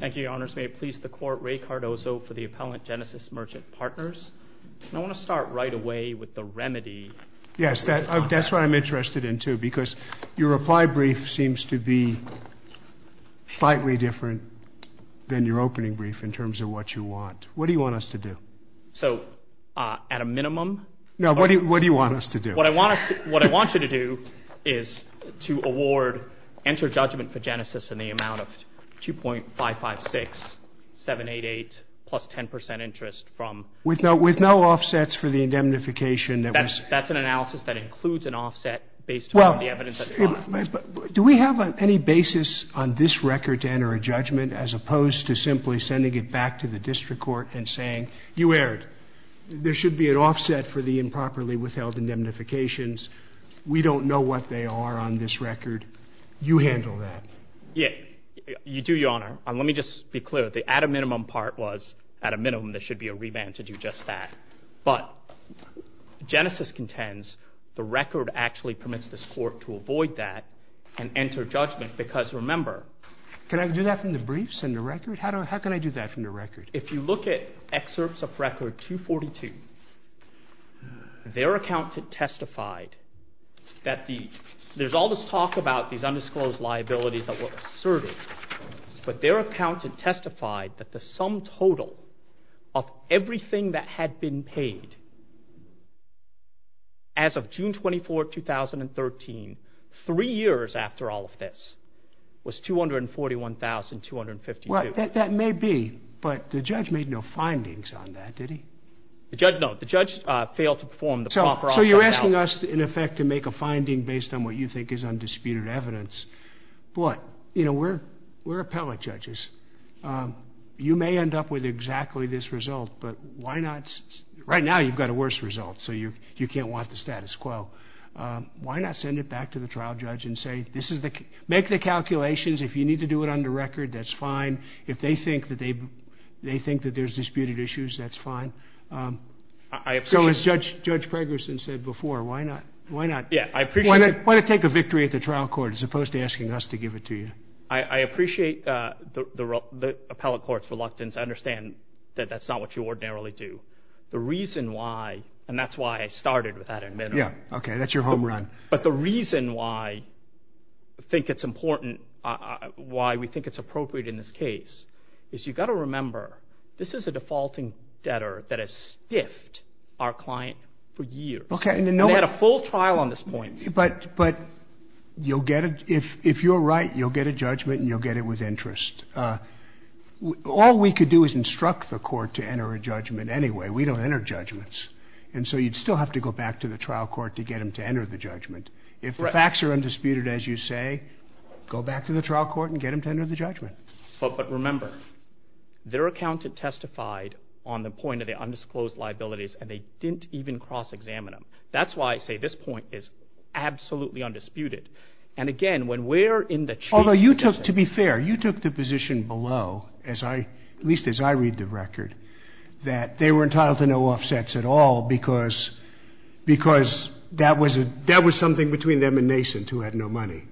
Thank you, Your Honors. May it please the Court, Ray Cardozo for the Appellant Genesis Merchant Partners. I want to start right away with the remedy. Yes, that's what I'm interested in too, because your reply brief seems to be slightly different than your opening brief in terms of what you want. What do you want us to do? So, at a minimum? No, what do you want us to do? What I want you to do is to award, enter judgment for Genesis in the amount of $2.556,788 plus 10% interest from... With no offsets for the indemnification. That's an analysis that includes an offset based on the evidence at the bottom. Do we have any basis on this record to enter a judgment as opposed to simply sending it back to the District Court and saying, you erred? There should be an offset for the improperly withheld indemnifications. We don't know what they are on this record. You handle that. Yeah, you do, Your Honor. Let me just be clear. The at a minimum part was, at a minimum, there should be a revamp to do just that. But Genesis contends the record actually permits this Court to avoid that and enter judgment because, remember... Can I do that from the briefs and the record? How can I do that from the record? If you look at excerpts of record 242, their accountant testified that the... There's all this talk about these undisclosed liabilities that were asserted. But their accountant testified that the sum total of everything that had been paid as of June 24, 2013, three years after all of this, was $241,252. Well, that may be, but the judge made no findings on that, did he? The judge, no. The judge failed to perform the proper... So you're asking us, in effect, to make a finding based on what you think is undisputed evidence. But, you know, we're appellate judges. You may end up with exactly this result, but why not... Right now, you've got a worse result, so you can't want the status quo. Why not send it back to the trial judge and say, make the calculations. If you need to do it on the record, that's fine. If they think that there's disputed issues, that's fine. So as Judge Preggerson said before, why not take a victory at the trial court as opposed to asking us to give it to you? I appreciate the appellate court's reluctance. I understand that that's not what you ordinarily do. The reason why, and that's why I started with that in mind. Yeah, okay, that's your home run. But the reason why I think it's important, why we think it's appropriate in this case, is you've got to remember, this is a defaulting debtor that has stiffed our client for years. And they had a full trial on this point. But you'll get it. If you're right, you'll get a judgment and you'll get it with interest. All we could do is instruct the court to enter a judgment anyway. We don't enter judgments. And so you'd still have to go back to the trial court to get them to enter the judgment. If the facts are undisputed, as you say, go back to the trial court and get them to enter the judgment. But remember, their accountant testified on the point of the undisclosed liabilities, and they didn't even cross-examine them. That's why I say this point is absolutely undisputed. Although, to be fair, you took the position below, at least as I read the record, that they were entitled to no offsets at all because that was something between them and Mason, who had no money.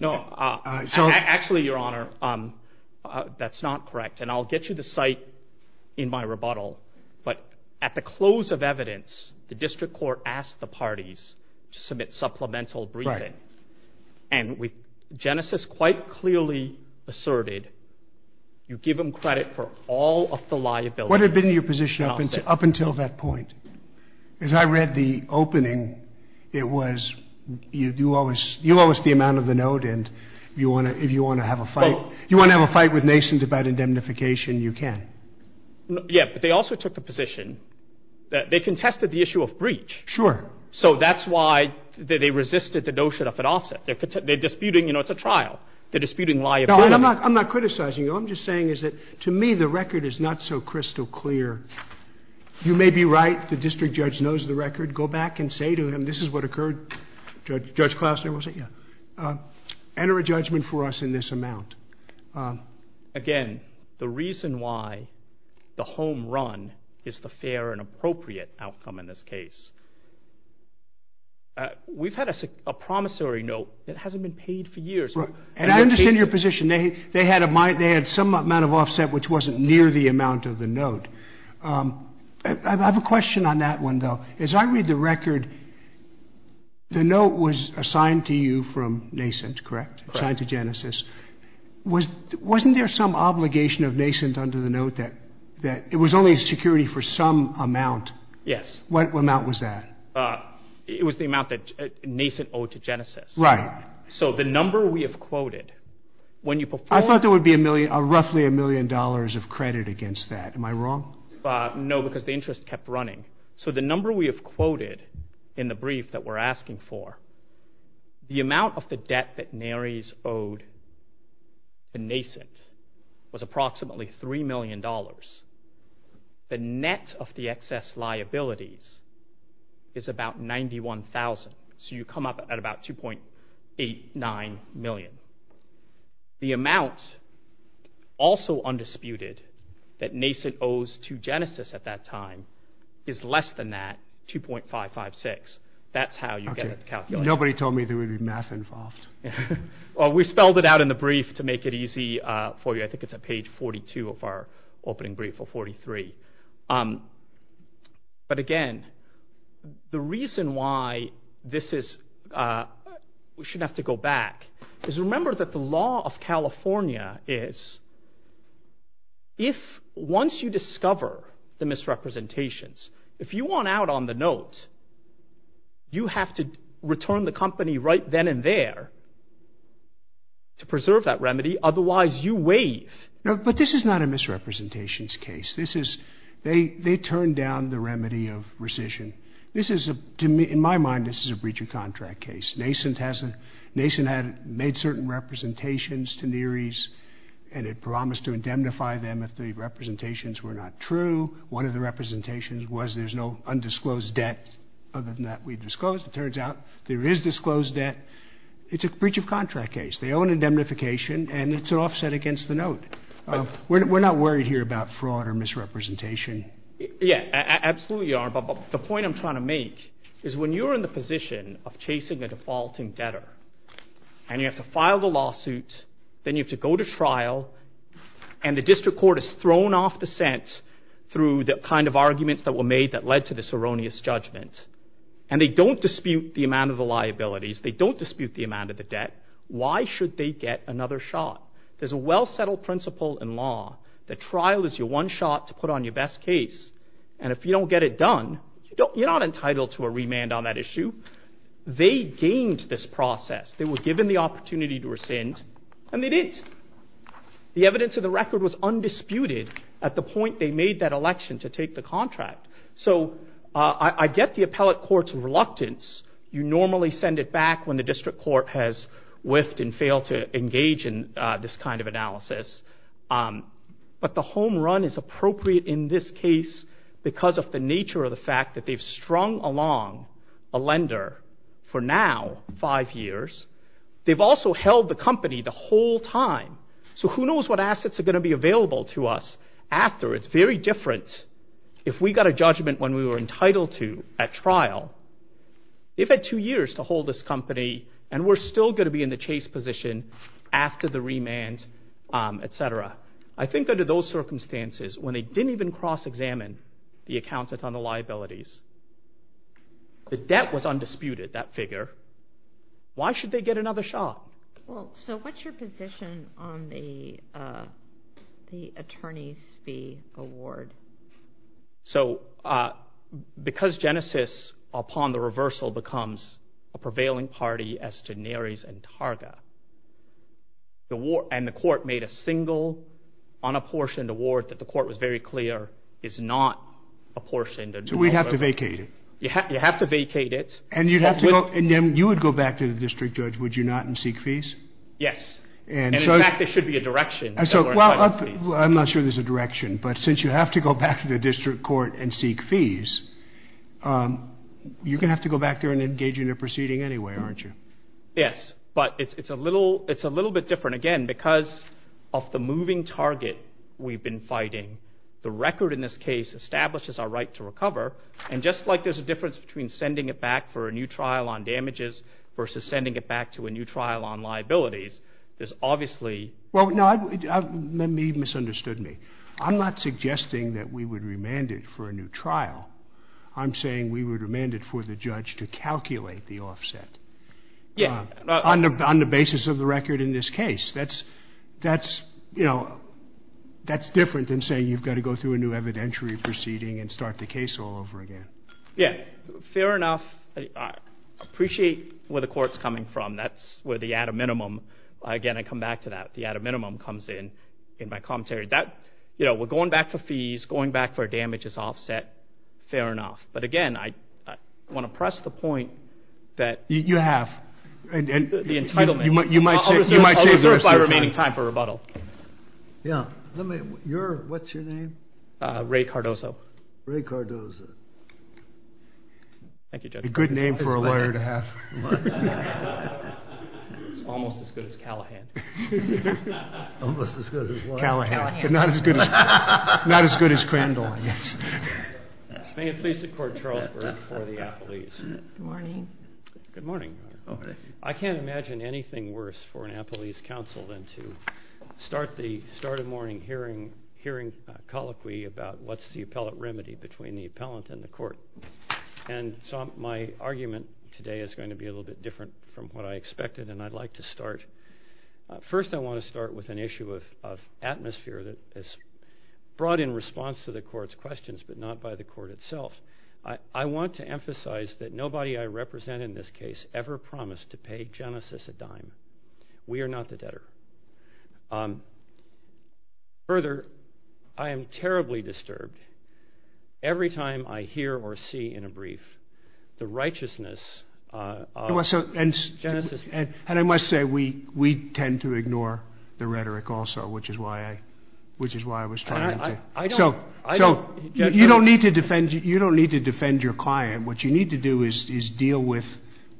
No, actually, Your Honor, that's not correct. And I'll get you the cite in my rebuttal. But at the close of evidence, the district court asked the parties to submit supplemental briefing. And Genesis quite clearly asserted, you give them credit for all of the liability. What had been your position up until that point? As I read the opening, it was you owe us the amount of the note, and if you want to have a fight with Mason about indemnification, you can. Yeah, but they also took the position that they contested the issue of breach. Sure. So that's why they resisted the notion of an offset. They're disputing, you know, it's a trial. They're disputing liability. I'm not criticizing you. All I'm just saying is that, to me, the record is not so crystal clear. You may be right. The district judge knows the record. Go back and say to him, this is what occurred. Judge Klausner will say, yeah. Enter a judgment for us in this amount. Again, the reason why the home run is the fair and appropriate outcome in this case. We've had a promissory note that hasn't been paid for years. And I understand your position. They had some amount of offset which wasn't near the amount of the note. I have a question on that one, though. As I read the record, the note was assigned to you from Mason, correct? It was assigned to Genesis. Wasn't there some obligation of Mason under the note that it was only security for some amount? Yes. What amount was that? It was the amount that Mason owed to Genesis. Right. So the number we have quoted, when you perform— I thought there would be roughly a million dollars of credit against that. Am I wrong? No, because the interest kept running. So the number we have quoted in the brief that we're asking for, the amount of the debt that Naries owed to Nascent was approximately $3 million. The net of the excess liabilities is about $91,000. So you come up at about $2.89 million. The amount also undisputed that Nascent owes to Genesis at that time is less than that, $2.556 million. That's how you get the calculation. Nobody told me there would be math involved. We spelled it out in the brief to make it easy for you. I think it's at page 42 of our opening brief, or 43. But again, the reason why this is—we should have to go back— is remember that the law of California is, once you discover the misrepresentations, if you want out on the note, you have to return the company right then and there to preserve that remedy. Otherwise, you waive. But this is not a misrepresentations case. This is—they turned down the remedy of rescission. In my mind, this is a breach of contract case. Nascent had made certain representations to Naries, and it promised to indemnify them if the representations were not true. One of the representations was there's no undisclosed debt other than that we disclosed. It turns out there is disclosed debt. It's a breach of contract case. They owe an indemnification, and it's offset against the note. We're not worried here about fraud or misrepresentation. Yeah, absolutely, Your Honor. But the point I'm trying to make is when you're in the position of chasing a defaulting debtor, and you have to file the lawsuit, then you have to go to trial, and the district court is thrown off the scent through the kind of arguments that were made that led to this erroneous judgment, and they don't dispute the amount of the liabilities, they don't dispute the amount of the debt, why should they get another shot? There's a well-settled principle in law that trial is your one shot to put on your best case, and if you don't get it done, you're not entitled to a remand on that issue. They gained this process. They were given the opportunity to rescind, and they didn't. The evidence of the record was undisputed at the point they made that election to take the contract. So I get the appellate court's reluctance. You normally send it back when the district court has whiffed and failed to engage in this kind of analysis, but the home run is appropriate in this case because of the nature of the fact that they've strung along a lender for now five years. They've also held the company the whole time, so who knows what assets are going to be available to us after. It's very different if we got a judgment when we were entitled to at trial. They've had two years to hold this company, and we're still going to be in the chase position after the remand, etc. I think under those circumstances, when they didn't even cross-examine the accountants on the liabilities, the debt was undisputed, that figure. Why should they get another shot? So what's your position on the attorney's fee award? Because Genesis, upon the reversal, becomes a prevailing party as to Neres and Targa, and the court made a single unapportioned award that the court was very clear is not apportioned. So we'd have to vacate it. You'd have to vacate it. And then you would go back to the district judge, would you not, and seek fees? Yes. In fact, there should be a direction. I'm not sure there's a direction, but since you have to go back to the district court and seek fees, you're going to have to go back there and engage in a proceeding anyway, aren't you? Yes, but it's a little bit different. Again, because of the moving target we've been fighting, the record in this case establishes our right to recover, and just like there's a difference between sending it back for a new trial on damages versus sending it back to a new trial on liabilities, there's obviously ---- Well, no, you've misunderstood me. I'm not suggesting that we would remand it for a new trial. I'm saying we would remand it for the judge to calculate the offset on the basis of the record in this case. That's, you know, that's different than saying you've got to go through a new evidentiary proceeding and start the case all over again. Yeah, fair enough. I appreciate where the court's coming from. That's where the add a minimum. Again, I come back to that. The add a minimum comes in in my commentary. You know, we're going back for fees, going back for damages offset, fair enough. You have. The entitlement. I'll reserve my remaining time for rebuttal. Yeah, what's your name? Ray Cardozo. Ray Cardozo. Thank you, Judge. A good name for a lawyer to have. Almost as good as Callahan. Almost as good as what? Callahan. But not as good as Crandall, I guess. May it please the court, Charles Burke for the appellees. Good morning. Good morning. I can't imagine anything worse for an appellee's counsel than to start a morning hearing colloquy about what's the appellate remedy between the appellant and the court. And so my argument today is going to be a little bit different from what I expected, and I'd like to start. First, I want to start with an issue of atmosphere that is brought in response to the court's questions but not by the court itself. I want to emphasize that nobody I represent in this case ever promised to pay Genesis a dime. We are not the debtor. Further, I am terribly disturbed every time I hear or see in a brief the righteousness of Genesis. And I must say, we tend to ignore the rhetoric also, which is why I was trying to. So you don't need to defend your client. What you need to do is deal with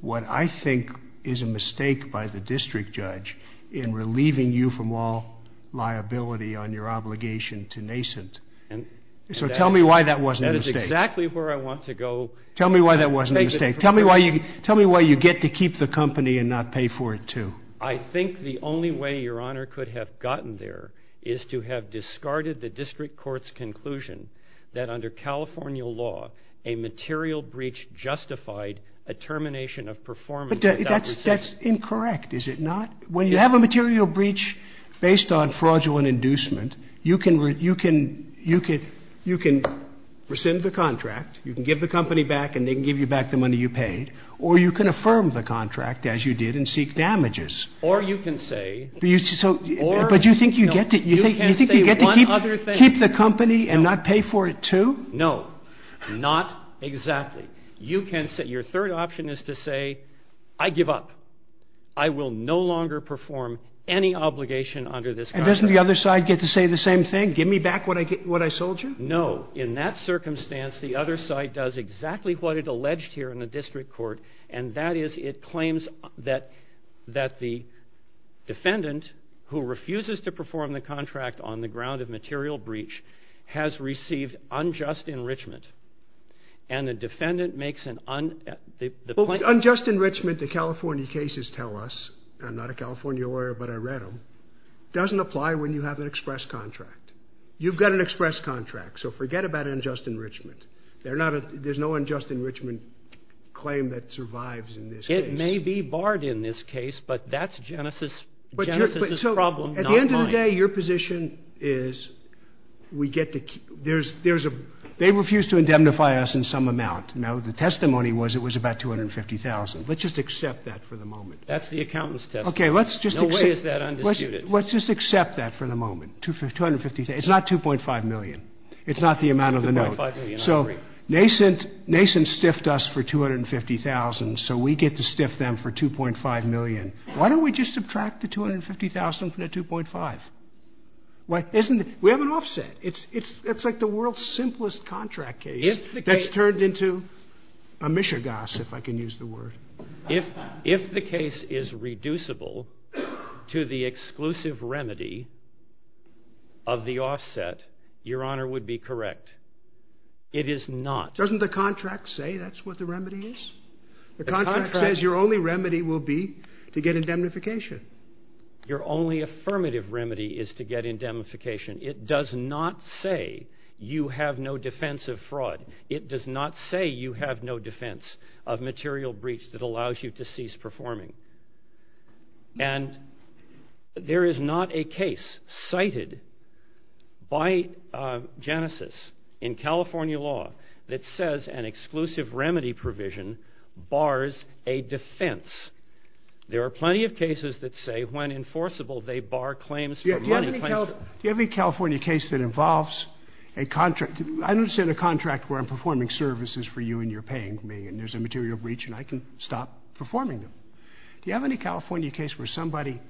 what I think is a mistake by the district judge in relieving you from all liability on your obligation to nascent. So tell me why that wasn't a mistake. That is exactly where I want to go. Tell me why that wasn't a mistake. Tell me why you get to keep the company and not pay for it too. I think the only way Your Honor could have gotten there is to have discarded the district court's conclusion that under California law, a material breach justified a termination of performance. But that's incorrect, is it not? When you have a material breach based on fraudulent inducement, you can rescind the contract, you can give the company back, and they can give you back the money you paid, or you can affirm the contract as you did and seek damages. Or you can say... But you think you get to keep the company and not pay for it too? No, not exactly. Your third option is to say, I give up. I will no longer perform any obligation under this contract. And doesn't the other side get to say the same thing? Give me back what I sold you? No, in that circumstance, the other side does exactly what it alleged here in the district court, and that is it claims that the defendant, who refuses to perform the contract on the ground of material breach, has received unjust enrichment. And the defendant makes an un... Unjust enrichment, the California cases tell us, I'm not a California lawyer, but I read them, doesn't apply when you have an express contract. You've got an express contract, so forget about unjust enrichment. There's no unjust enrichment claim that survives in this case. It may be barred in this case, but that's Genesis's problem, not mine. At the end of the day, your position is, we get to keep... They refuse to indemnify us in some amount. Now, the testimony was it was about $250,000. Let's just accept that for the moment. That's the accountant's testimony. No way is that undisputed. Let's just accept that for the moment, $250,000. It's not $2.5 million. It's not the amount of the note. $2.5 million, I agree. So, Nason stiffed us for $250,000, so we get to stiff them for $2.5 million. Why don't we just subtract the $250,000 from the $2.5? We have an offset. It's like the world's simplest contract case that's turned into a mishegas, if I can use the word. If the case is reducible to the exclusive remedy of the offset, your Honor would be correct. It is not. Doesn't the contract say that's what the remedy is? The contract says your only remedy will be to get indemnification. Your only affirmative remedy is to get indemnification. It does not say you have no defense of fraud. It does not say you have no defense of material breach that allows you to cease performing. And there is not a case cited by Genesis in California law that says an exclusive remedy provision bars a defense. There are plenty of cases that say when enforceable, they bar claims for money. Do you have any California case that involves a contract? I understand a contract where I'm performing services for you and you're paying me and there's a material breach and I can stop performing them. Do you have any California case where somebody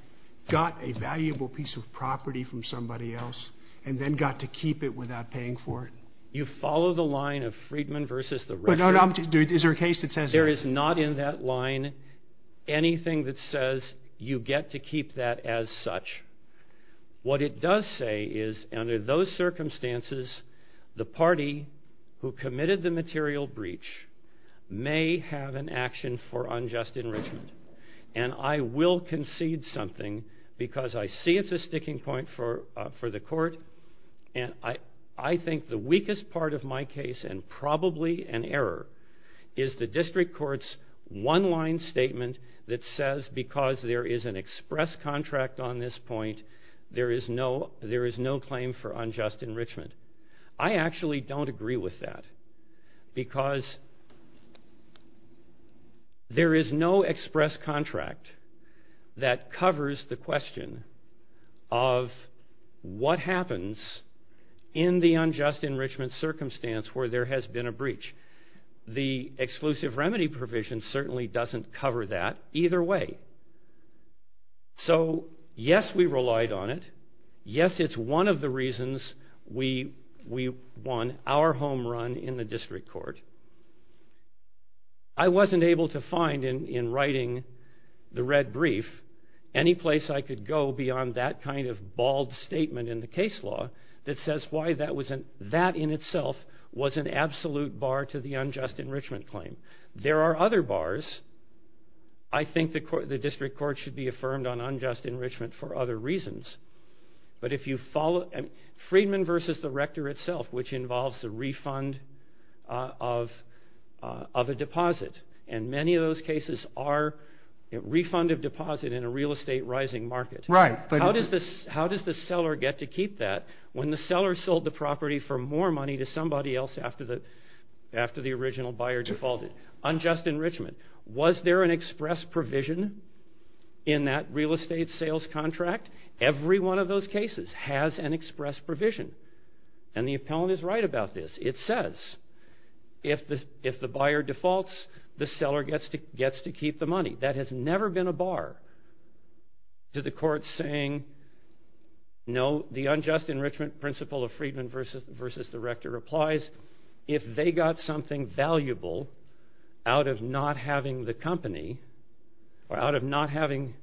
got a valuable piece of property from somebody else and then got to keep it without paying for it? You follow the line of Friedman versus the record. Is there a case that says that? There is not in that line anything that says you get to keep that as such. What it does say is under those circumstances, the party who committed the material breach may have an action for unjust enrichment. And I will concede something because I see it's a sticking point for the court and I think the weakest part of my case and probably an error is the district court's one-line statement that says because there is an express contract on this point, there is no claim for unjust enrichment. I actually don't agree with that because there is no express contract that covers the question of what happens in the unjust enrichment circumstance where there has been a breach. The exclusive remedy provision certainly doesn't cover that either way. So yes, we relied on it. Yes, it's one of the reasons we won our home run in the district court. I wasn't able to find in writing the red brief any place I could go beyond that kind of bald statement in the case law that says why that in itself was an absolute bar to the unjust enrichment claim. There are other bars. I think the district court should be affirmed on unjust enrichment for other reasons. But if you follow Friedman versus the rector itself, which involves the refund of a deposit, and many of those cases are refund of deposit in a real estate rising market. How does the seller get to keep that when the seller sold the property for more money to somebody else after the original buyer defaulted? Unjust enrichment. Was there an express provision in that real estate sales contract? Every one of those cases has an express provision. And the appellant is right about this. It says if the buyer defaults, the seller gets to keep the money. That has never been a bar to the court saying no, the unjust enrichment principle of Friedman versus the rector applies. If they got something valuable out of not having the company or out of not having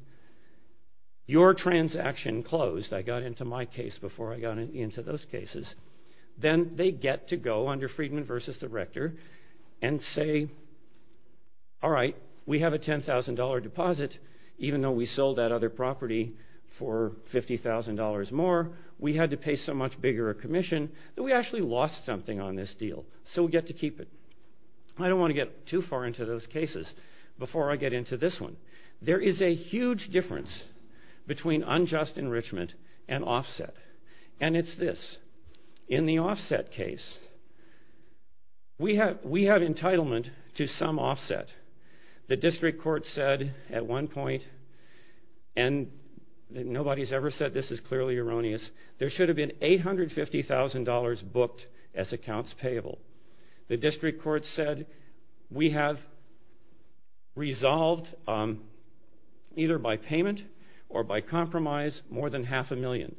your transaction closed, I got into my case before I got into those cases, then they get to go under Friedman versus the rector and say, all right, we have a $10,000 deposit. Even though we sold that other property for $50,000 more, we had to pay so much bigger a commission that we actually lost something on this deal. So we get to keep it. I don't want to get too far into those cases before I get into this one. There is a huge difference between unjust enrichment and offset. And it's this. In the offset case, we have entitlement to some offset. The district court said at one point, and nobody's ever said this is clearly erroneous, there should have been $850,000 booked as accounts payable. The district court said we have resolved either by payment or by compromise more than half a million.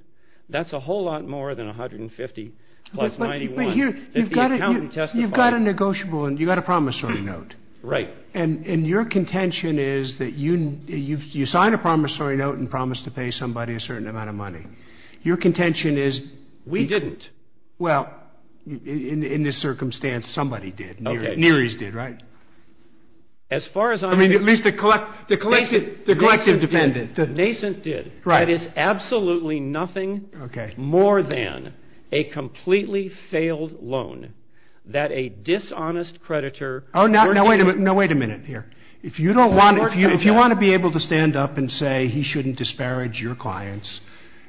That's a whole lot more than $150,000 plus $91,000 that the accountant testified. You've got a negotiable and you've got a promissory note. Right. And your contention is that you sign a promissory note and promise to pay somebody a certain amount of money. Your contention is we didn't. Well, in this circumstance, somebody did. Neary's did, right? As far as I'm concerned. I mean, at least the collective defendant. The nascent did. Right. That is absolutely nothing more than a completely failed loan that a dishonest creditor. Oh, no. Wait a minute. No, wait a minute here. If you don't want to be able to stand up and say he shouldn't disparage your clients,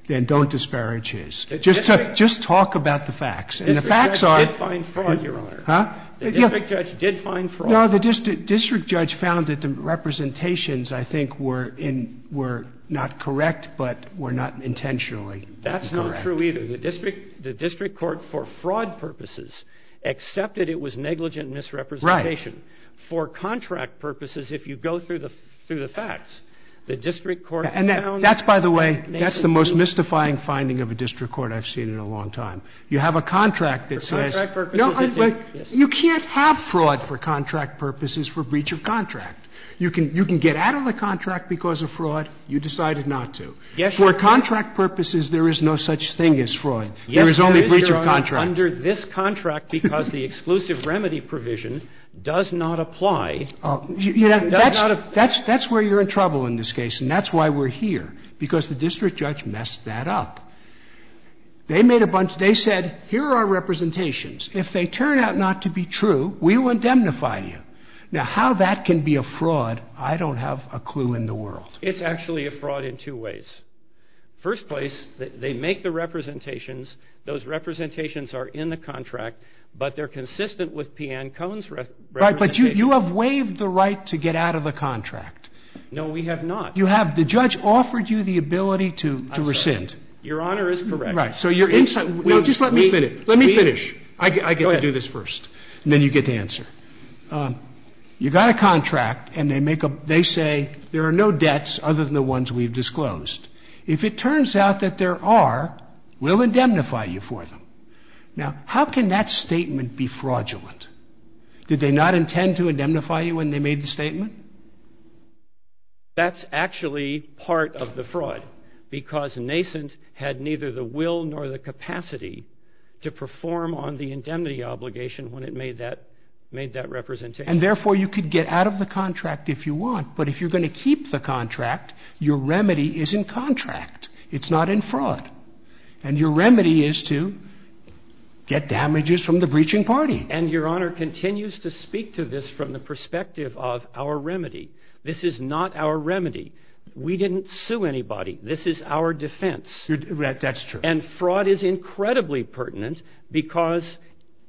then don't disparage his. Just talk about the facts. And the facts are. The district judge did find fraud, Your Honor. Huh? The district judge did find fraud. No, the district judge found that the representations, I think, were not correct but were not intentionally incorrect. That's not true either. The district court, for fraud purposes, accepted it was negligent misrepresentation. Right. For contract purposes, if you go through the facts, the district court found. And that's, by the way, that's the most mystifying finding of a district court I've seen in a long time. You have a contract that says. For contract purposes. You can't have fraud for contract purposes for breach of contract. You can get out of the contract because of fraud. You decided not to. Yes, Your Honor. For contract purposes, there is no such thing as fraud. There is only breach of contract. Yes, Your Honor, under this contract, because the exclusive remedy provision does not apply. That's where you're in trouble in this case, and that's why we're here, because the district judge messed that up. They made a bunch. They said, here are our representations. If they turn out not to be true, we will indemnify you. Now, how that can be a fraud, I don't have a clue in the world. It's actually a fraud in two ways. First place, they make the representations. Those representations are in the contract, but they're consistent with P. Ann Cone's representation. Right, but you have waived the right to get out of the contract. No, we have not. You have. The judge offered you the ability to rescind. Your Honor is correct. Right, so you're inside. No, just let me finish. Let me finish. Go ahead. I get to do this first, and then you get to answer. You got a contract, and they say, there are no debts other than the ones we've disclosed. If it turns out that there are, we'll indemnify you for them. Now, how can that statement be fraudulent? Did they not intend to indemnify you when they made the statement? That's actually part of the fraud, because nascent had neither the will nor the capacity to perform on the indemnity obligation when it made that representation. And therefore, you could get out of the contract if you want, but if you're going to keep the contract, your remedy is in contract. It's not in fraud. And your remedy is to get damages from the breaching party. And your Honor continues to speak to this from the perspective of our remedy. This is not our remedy. We didn't sue anybody. This is our defense. That's true. And fraud is incredibly pertinent, because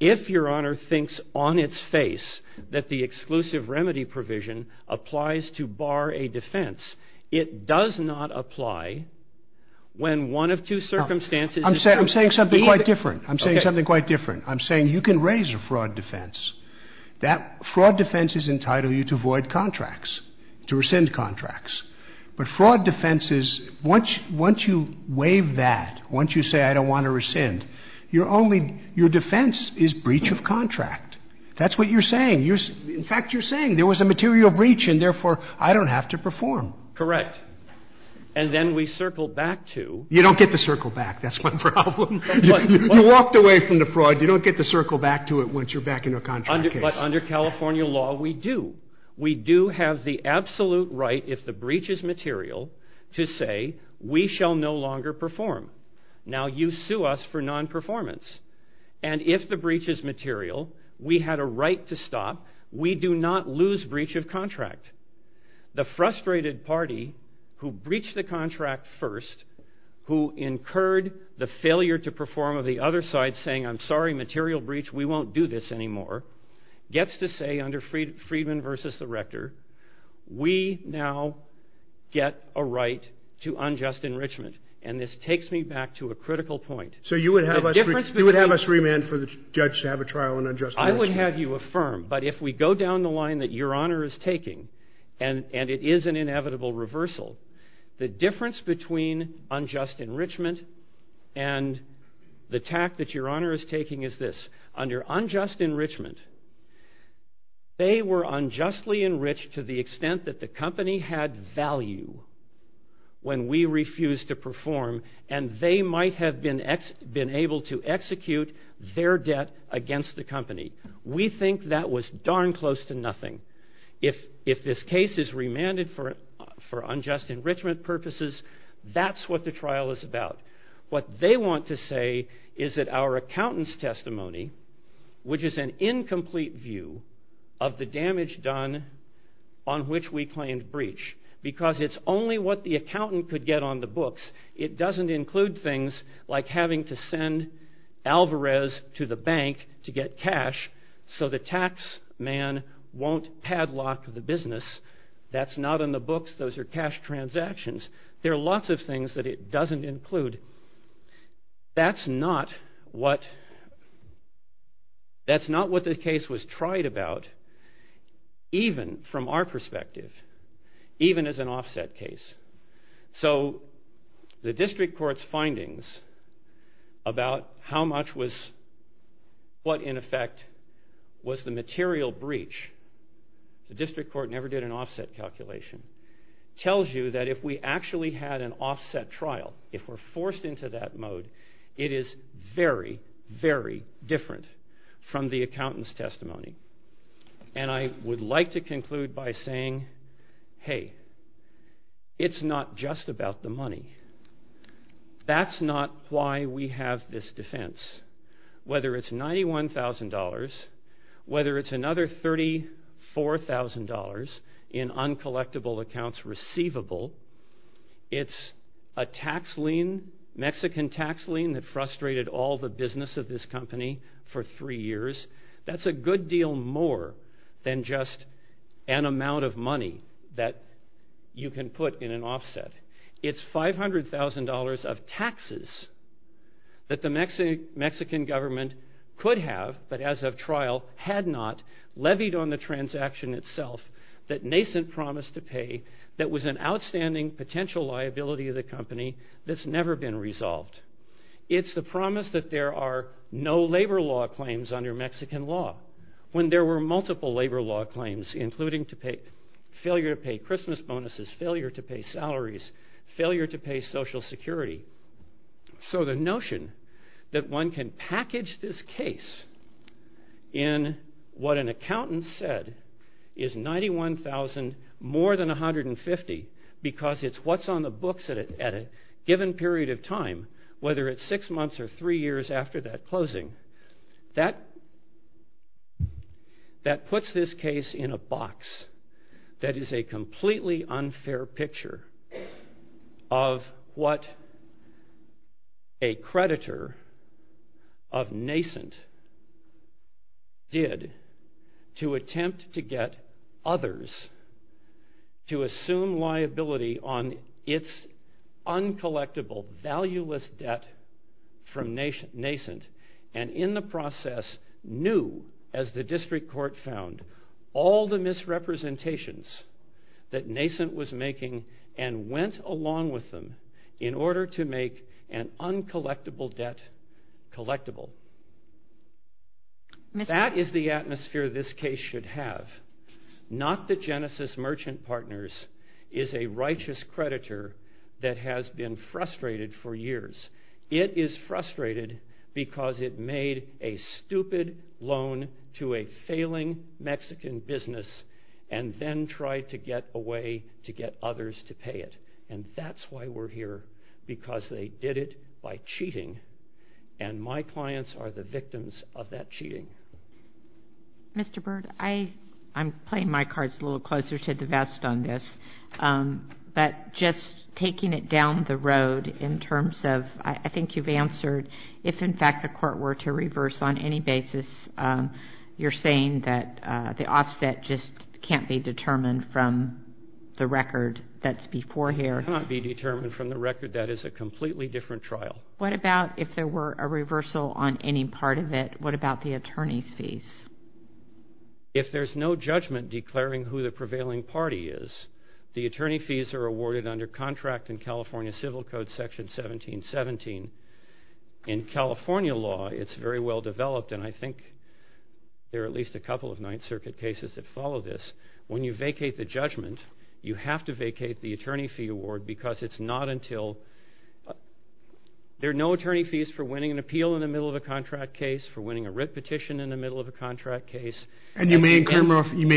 if your Honor thinks on its face that the exclusive remedy provision applies to bar a defense, it does not apply when one of two circumstances. I'm saying something quite different. I'm saying something quite different. I'm saying you can raise a fraud defense. Fraud defenses entitle you to void contracts, to rescind contracts. But fraud defenses, once you waive that, once you say I don't want to rescind, your defense is breach of contract. That's what you're saying. In fact, you're saying there was a material breach, and therefore I don't have to perform. Correct. And then we circle back to — You don't get to circle back. That's my problem. You walked away from the fraud. You don't get to circle back to it once you're back in a contract case. But under California law, we do. We do have the absolute right, if the breach is material, to say we shall no longer perform. Now, you sue us for nonperformance. And if the breach is material, we had a right to stop. We do not lose breach of contract. The frustrated party who breached the contract first, who incurred the failure to perform of the other side, saying I'm sorry, material breach, we won't do this anymore, gets to say under Friedman v. Rector, we now get a right to unjust enrichment. And this takes me back to a critical point. So you would have us remand for the judge to have a trial on unjust enrichment? I would have you affirm. But if we go down the line that Your Honor is taking, and it is an inevitable reversal, the difference between unjust enrichment and the tact that Your Honor is taking is this. Under unjust enrichment, they were unjustly enriched to the extent that the company had value when we refused to perform, and they might have been able to execute their debt against the company. We think that was darn close to nothing. If this case is remanded for unjust enrichment purposes, that's what the trial is about. What they want to say is that our accountant's testimony, which is an incomplete view of the damage done on which we claimed breach, because it's only what the accountant could get on the books. It doesn't include things like having to send Alvarez to the bank to get cash so the tax man won't padlock the business. That's not on the books. Those are cash transactions. There are lots of things that it doesn't include. That's not what the case was tried about, even from our perspective, even as an offset case. So the district court's findings about what, in effect, was the material breach, the district court never did an offset calculation, tells you that if we actually had an offset trial, if we're forced into that mode, it is very, very different from the accountant's testimony. And I would like to conclude by saying, hey, it's not just about the money. That's not why we have this defense. Whether it's $91,000, whether it's another $34,000 in uncollectible accounts receivable, it's a Mexican tax lien that frustrated all the business of this company for three years. That's a good deal more than just an amount of money that you can put in an offset. It's $500,000 of taxes that the Mexican government could have, but as of trial had not, levied on the transaction itself that Nascent promised to pay that was an outstanding potential liability of the company that's never been resolved. It's the promise that there are no labor law claims under Mexican law when there were multiple labor law claims, including failure to pay Christmas bonuses, failure to pay salaries, failure to pay Social Security. So the notion that one can package this case in what an accountant said is $91,000 more than $150,000 because it's what's on the books at a given period of time, whether it's six months or three years after that closing, that puts this case in a box that is a completely unfair picture of what a creditor of Nascent did to attempt to get others to assume liability on its uncollectible, valueless debt from Nascent and in the process knew, as the district court found, all the misrepresentations that Nascent was making and went along with them in order to make an uncollectible debt collectible. That is the atmosphere this case should have. Not that Genesis Merchant Partners is a righteous creditor that has been frustrated for years. It is frustrated because it made a stupid loan to a failing Mexican business and then tried to get away to get others to pay it. And that's why we're here, because they did it by cheating and my clients are the victims of that cheating. Mr. Byrd, I'm playing my cards a little closer to the vest on this, but just taking it down the road in terms of I think you've answered, if in fact the court were to reverse on any basis, you're saying that the offset just can't be determined from the record that's before here. It cannot be determined from the record. That is a completely different trial. What about if there were a reversal on any part of it? What about the attorney's fees? If there's no judgment declaring who the prevailing party is, the attorney fees are awarded under contract in California Civil Code Section 1717. In California law, it's very well developed, and I think there are at least a couple of Ninth Circuit cases that follow this. When you vacate the judgment, you have to vacate the attorney fee award because it's not until there are no attorney fees for winning an appeal in the middle of a contract case, for winning a writ petition in the middle of a contract case. And you may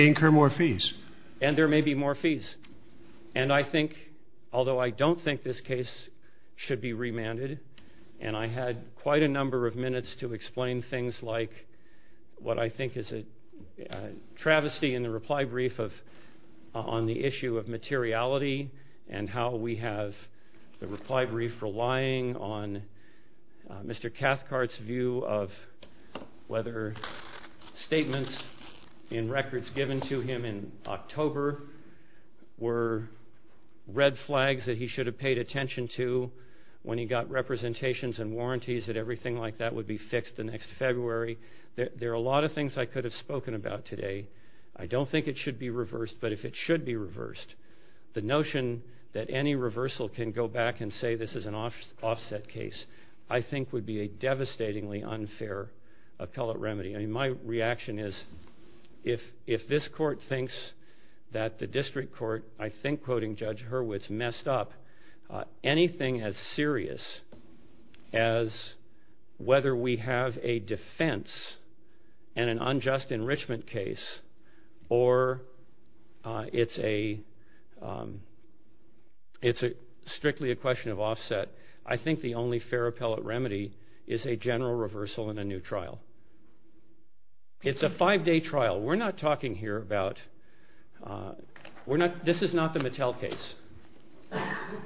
incur more fees. And there may be more fees. And I think, although I don't think this case should be remanded, and I had quite a number of minutes to explain things like what I think is a travesty in the reply brief on the issue of materiality and how we have the reply brief relying on Mr. Cathcart's view of whether statements in records given to him in October were red flags that he should have paid attention to when he got representations and warranties that everything like that would be fixed the next February. There are a lot of things I could have spoken about today. I don't think it should be reversed, but if it should be reversed, the notion that any reversal can go back and say this is an offset case, I think would be a devastatingly unfair appellate remedy. My reaction is if this court thinks that the district court, I think quoting Judge Hurwitz, messed up anything as serious as whether we have a defense and an unjust enrichment case or it's strictly a question of offset, I think the only fair appellate remedy is a general reversal and a new trial. It's a five-day trial. We're not talking here about, this is not the Mattel case.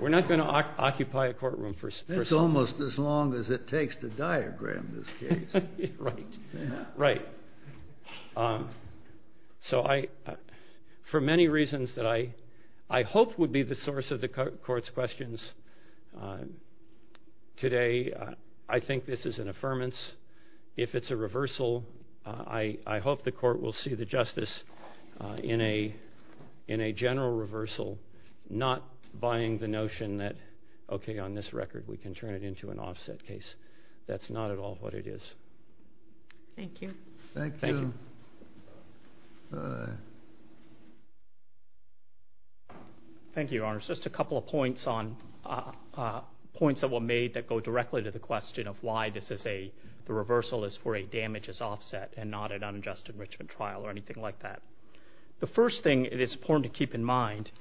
We're not going to occupy a courtroom. It's almost as long as it takes to diagram this case. Right. For many reasons that I hope would be the source of the court's questions today, I think this is an affirmance. If it's a reversal, I hope the court will see the justice in a general reversal, not buying the notion that, okay, on this record we can turn it into an offset case. That's not at all what it is. Thank you. Thank you. Thank you, Your Honors. Just a couple of points that were made that go directly to the question of why the reversal is for a damages offset and not an unjust enrichment trial or anything like that. The first thing it is important to keep in mind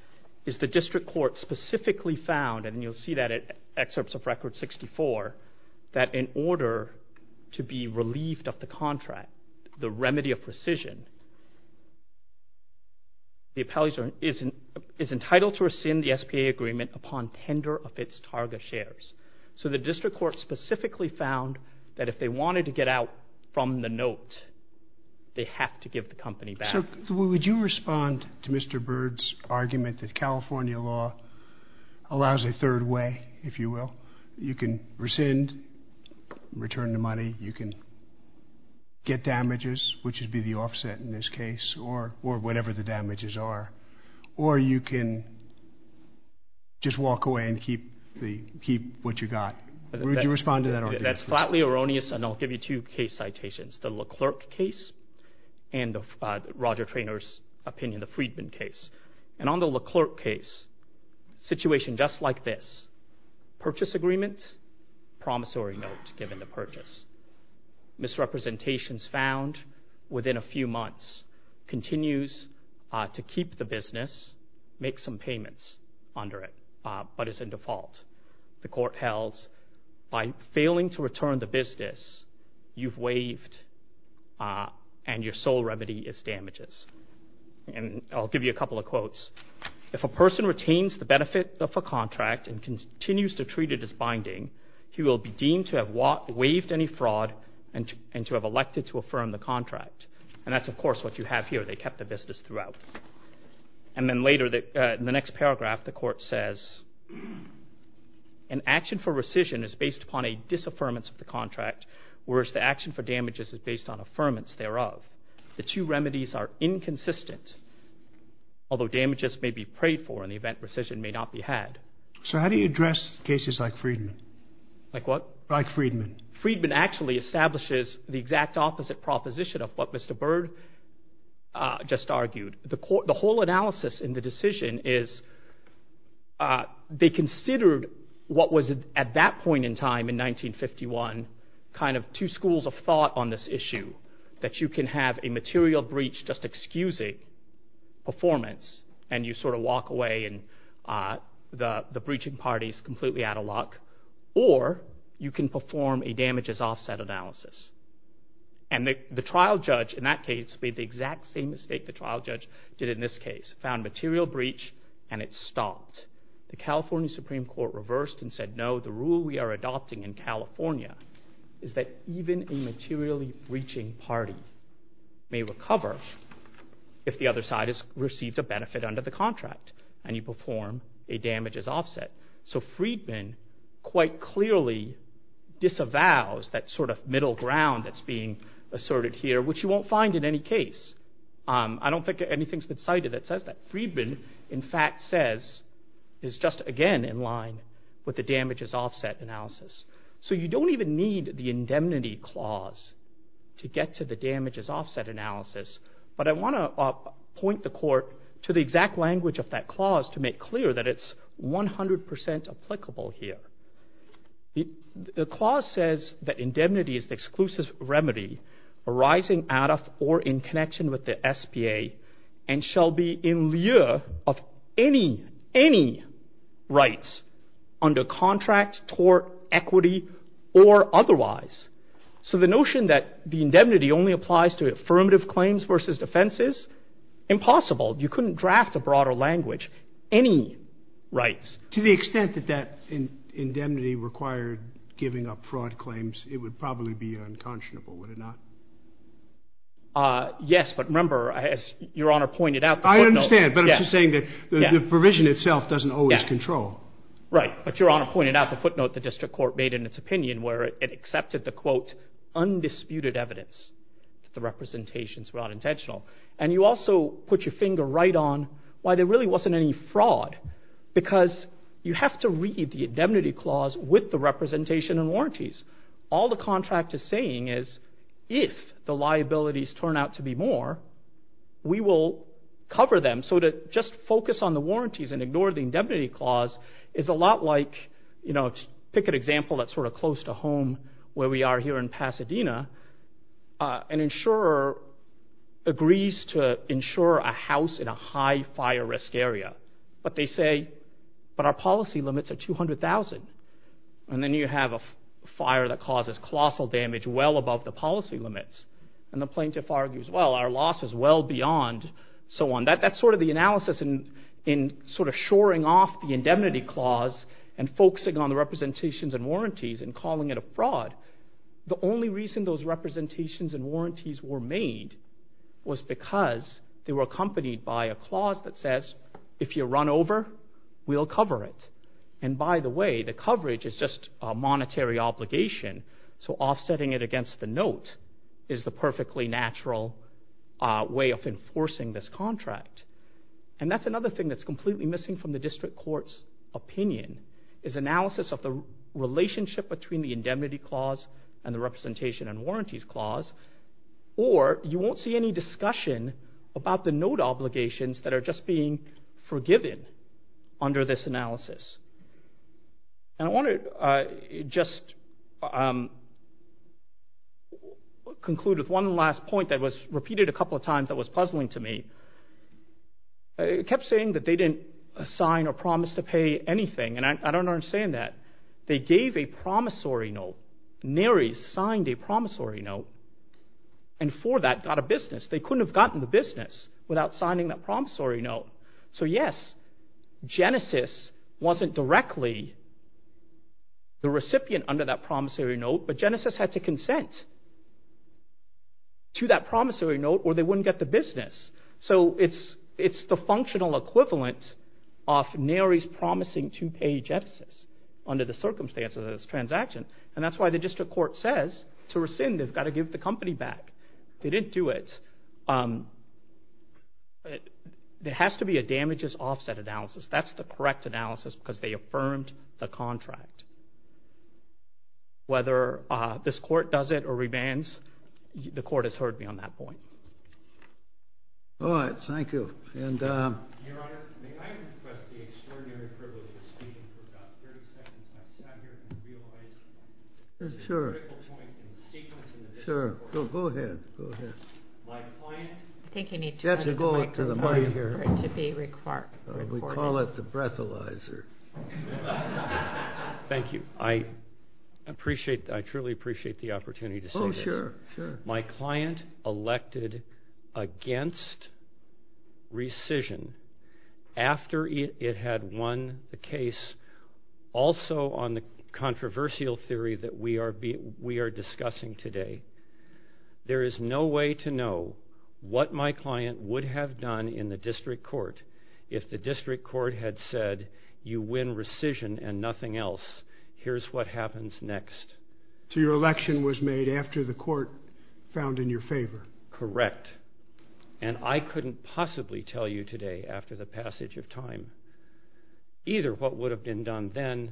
is the district court specifically found, and you'll see that in excerpts of Record 64, that in order to be relieved of the contract, the remedy of precision, the appellee is entitled to rescind the SBA agreement upon tender of its target shares. So the district court specifically found that if they wanted to get out from the note, they have to give the company back. Would you respond to Mr. Bird's argument that California law allows a third way, if you will? You can rescind, return the money. You can get damages, which would be the offset in this case, or whatever the damages are. Or you can just walk away and keep what you got. Would you respond to that argument? That's flatly erroneous, and I'll give you two case citations, the LeClerc case and Roger Traynor's opinion, the Friedman case. And on the LeClerc case, situation just like this, purchase agreement, promissory note given to purchase, misrepresentations found within a few months, continues to keep the business, make some payments under it, but it's in default. The court held, by failing to return the business, you've waived and your sole remedy is damages. If a person retains the benefit of a contract and continues to treat it as binding, he will be deemed to have waived any fraud and to have elected to affirm the contract. And that's, of course, what you have here. They kept the business throughout. And then later, in the next paragraph, the court says, an action for rescission is based upon a disaffirmance of the contract, whereas the action for damages is based on affirmance thereof. The two remedies are inconsistent, although damages may be prayed for in the event rescission may not be had. So how do you address cases like Friedman? Like what? Like Friedman. Friedman actually establishes the exact opposite proposition of what Mr. Byrd just argued. The whole analysis in the decision is they considered what was, at that point in time in 1951, kind of two schools of thought on this issue, that you can have a material breach just excusing performance and you sort of walk away and the breaching party is completely out of luck, or you can perform a damages offset analysis. And the trial judge in that case made the exact same mistake the trial judge did in this case, found material breach and it stopped. The California Supreme Court reversed and said, no, the rule we are adopting in California is that even a materially breaching party may recover if the other side has received a benefit under the contract and you perform a damages offset. So Friedman quite clearly disavows that sort of middle ground that's being asserted here, which you won't find in any case. I don't think anything's been cited that says that. Friedman, in fact, says, is just again in line with the damages offset analysis. So you don't even need the indemnity clause to get to the damages offset analysis, but I want to point the court to the exact language of that clause to make clear that it's 100% applicable here. The clause says that indemnity is the exclusive remedy arising out of or in connection with the SBA and shall be in lieu of any, any rights under contract, tort, equity, or otherwise. So the notion that the indemnity only applies to affirmative claims versus defenses, impossible. You couldn't draft a broader language, any rights. To the extent that that indemnity required giving up fraud claims, it would probably be unconscionable, would it not? Yes, but remember, as Your Honor pointed out. I understand, but I'm just saying that the provision itself doesn't always control. Right, but Your Honor pointed out the footnote the district court made in its opinion where it accepted the, quote, undisputed evidence that the representations were unintentional. And you also put your finger right on why there really wasn't any fraud, because you have to read the indemnity clause with the representation and warranties. All the contract is saying is if the liabilities turn out to be more, we will cover them. So to just focus on the warranties and ignore the indemnity clause is a lot like, you know, pick an example that's sort of close to home where we are here in Pasadena. An insurer agrees to insure a house in a high fire risk area. But they say, but our policy limits are 200,000. And then you have a fire that causes colossal damage well above the policy limits. And the plaintiff argues, well, our loss is well beyond so on. That's sort of the analysis in sort of shoring off the indemnity clause and focusing on the representations and warranties and calling it a fraud. The only reason those representations and warranties were made was because they were accompanied by a clause that says if you run over, we'll cover it. And by the way, the coverage is just a monetary obligation. So offsetting it against the note is the perfectly natural way of enforcing this contract. And that's another thing that's completely missing from the district court's opinion is analysis of the relationship between the indemnity clause and the representation and warranties clause. Or you won't see any discussion about the note obligations that are just being forgiven under this analysis. And I want to just conclude with one last point that was repeated a couple of times that was puzzling to me. It kept saying that they didn't sign or promise to pay anything. And I don't understand that. They gave a promissory note. Nary signed a promissory note and for that got a business. They couldn't have gotten the business without signing that promissory note. So yes, Genesis wasn't directly the recipient under that promissory note, but Genesis had to consent to that promissory note or they wouldn't get the business. So it's the functional equivalent of Nary's promising to pay Genesis under the circumstances of this transaction. And that's why the district court says to rescind, they've got to give the company back. They didn't do it. There has to be a damages offset analysis. That's the correct analysis because they affirmed the contract. Whether this court does it or revands, the court has heard me on that point. All right, thank you. Your Honor, may I request the extraordinary privilege of speaking for about 30 seconds? I've sat here and realized this is a critical point in the sequence in the district court. Sure, go ahead. I think you need to turn the microphone over to be recorded. We call it the breathalyzer. Thank you. I truly appreciate the opportunity to say this. Oh, sure. My client elected against rescission after it had won the case. Also on the controversial theory that we are discussing today, there is no way to know what my client would have done in the district court if the district court had said you win rescission and nothing else. Here's what happens next. So your election was made after the court found in your favor? Correct. And I couldn't possibly tell you today after the passage of time either what would have been done then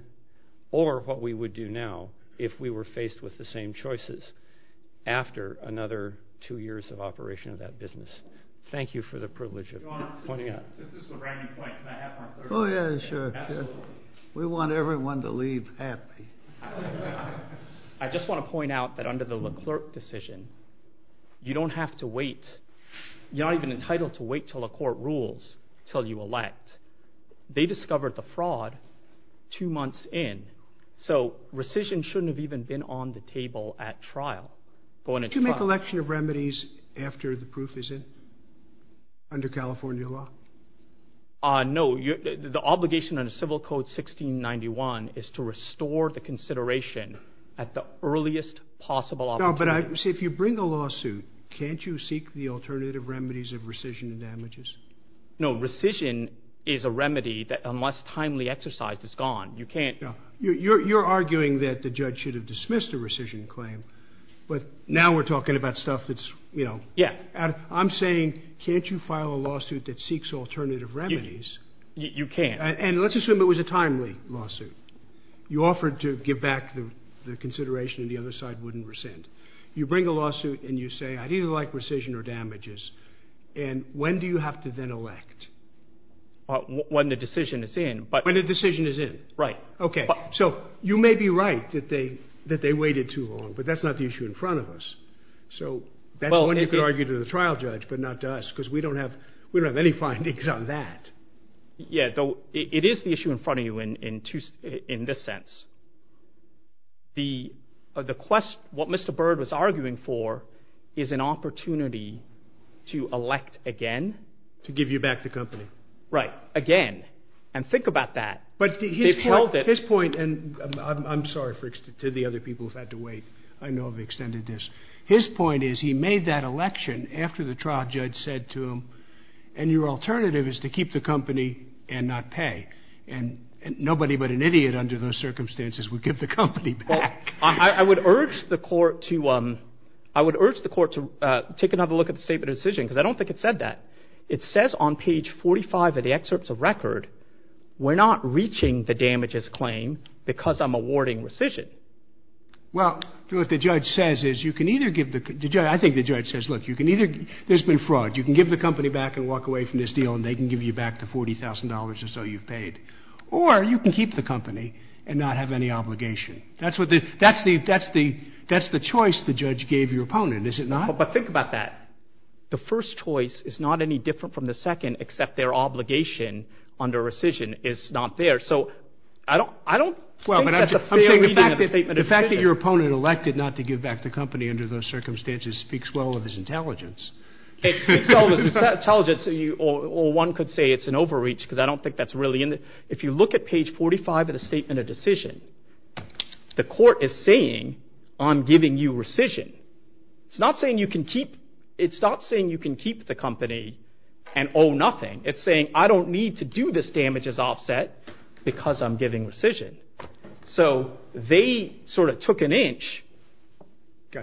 or what we would do now if we were faced with the same choices after another two years of operation of that business. Thank you for the privilege of pointing out. Your Honor, since this is a ramming point, can I have my third question? Oh, yeah, sure. Absolutely. We want everyone to leave happy. I just want to point out that under the LeClerc decision, you don't have to wait. You're not even entitled to wait until a court rules until you elect. They discovered the fraud two months in, so rescission shouldn't have even been on the table at trial. Do you make election of remedies after the proof is in under California law? No. The obligation under Civil Code 1691 is to restore the consideration at the earliest possible opportunity. But, see, if you bring a lawsuit, can't you seek the alternative remedies of rescission and damages? No. Rescission is a remedy that unless timely exercised is gone. You can't. You're arguing that the judge should have dismissed a rescission claim, but now we're talking about stuff that's, you know. Yeah. I'm saying can't you file a lawsuit that seeks alternative remedies? You can't. And let's assume it was a timely lawsuit. You offered to give back the consideration and the other side wouldn't rescind. You bring a lawsuit and you say I'd either like rescission or damages, and when do you have to then elect? When the decision is in. When the decision is in. Right. Okay. So you may be right that they waited too long, but that's not the issue in front of us. So that's when you could argue to the trial judge but not to us because we don't have any findings on that. Yeah. It is the issue in front of you in this sense. What Mr. Byrd was arguing for is an opportunity to elect again. To give you back the company. Right. Again. And think about that. But his point, and I'm sorry to the other people who've had to wait. I know I've extended this. His point is he made that election after the trial judge said to him and your alternative is to keep the company and not pay. And nobody but an idiot under those circumstances would give the company back. Well, I would urge the court to take another look at the statement of decision because I don't think it said that. It says on page 45 of the excerpts of record we're not reaching the damages claim because I'm awarding rescission. Well, what the judge says is you can either give the company. I think the judge says, look, there's been fraud. You can give the company back and walk away from this deal and they can give you back the $40,000 or so you've paid. Or you can keep the company and not have any obligation. That's the choice the judge gave your opponent, is it not? But think about that. The first choice is not any different from the second except their obligation under rescission is not there. So I don't think that's a fair reading of the statement of decision. The fact that your opponent elected not to give back the company under those circumstances speaks well of his intelligence. It speaks well of his intelligence or one could say it's an overreach because I don't think that's really in it. If you look at page 45 of the statement of decision, the court is saying I'm giving you rescission. It's not saying you can keep the company and owe nothing. It's saying I don't need to do this damages offset because I'm giving rescission. So they sort of took an inch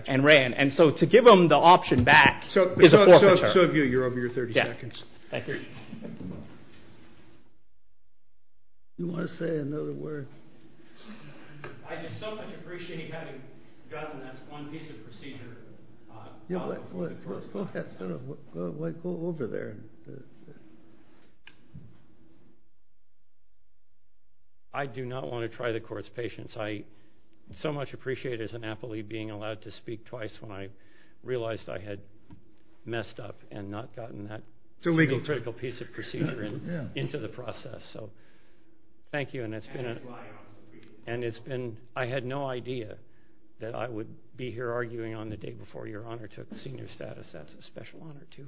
and ran. And so to give them the option back is a forfeiture. So if you're over your 30 seconds. Thank you. You want to say another word? I just so much appreciate you having done that one piece of procedure. Go ahead. Go over there. I do not want to try the court's patience. I so much appreciate as an athlete being allowed to speak twice when I realized I had messed up and not gotten that critical piece of procedure into the process. So thank you. And I had no idea that I would be here arguing on the day before your Honor took the senior status. That's a special honor too.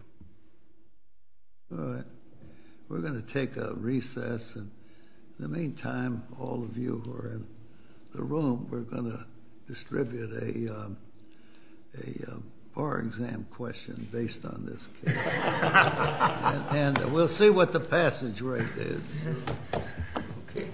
All right. We're going to take a recess. In the meantime, all of you who are in the room, we're going to distribute a bar exam question based on this case. And we'll see what the passage rate is. Okay.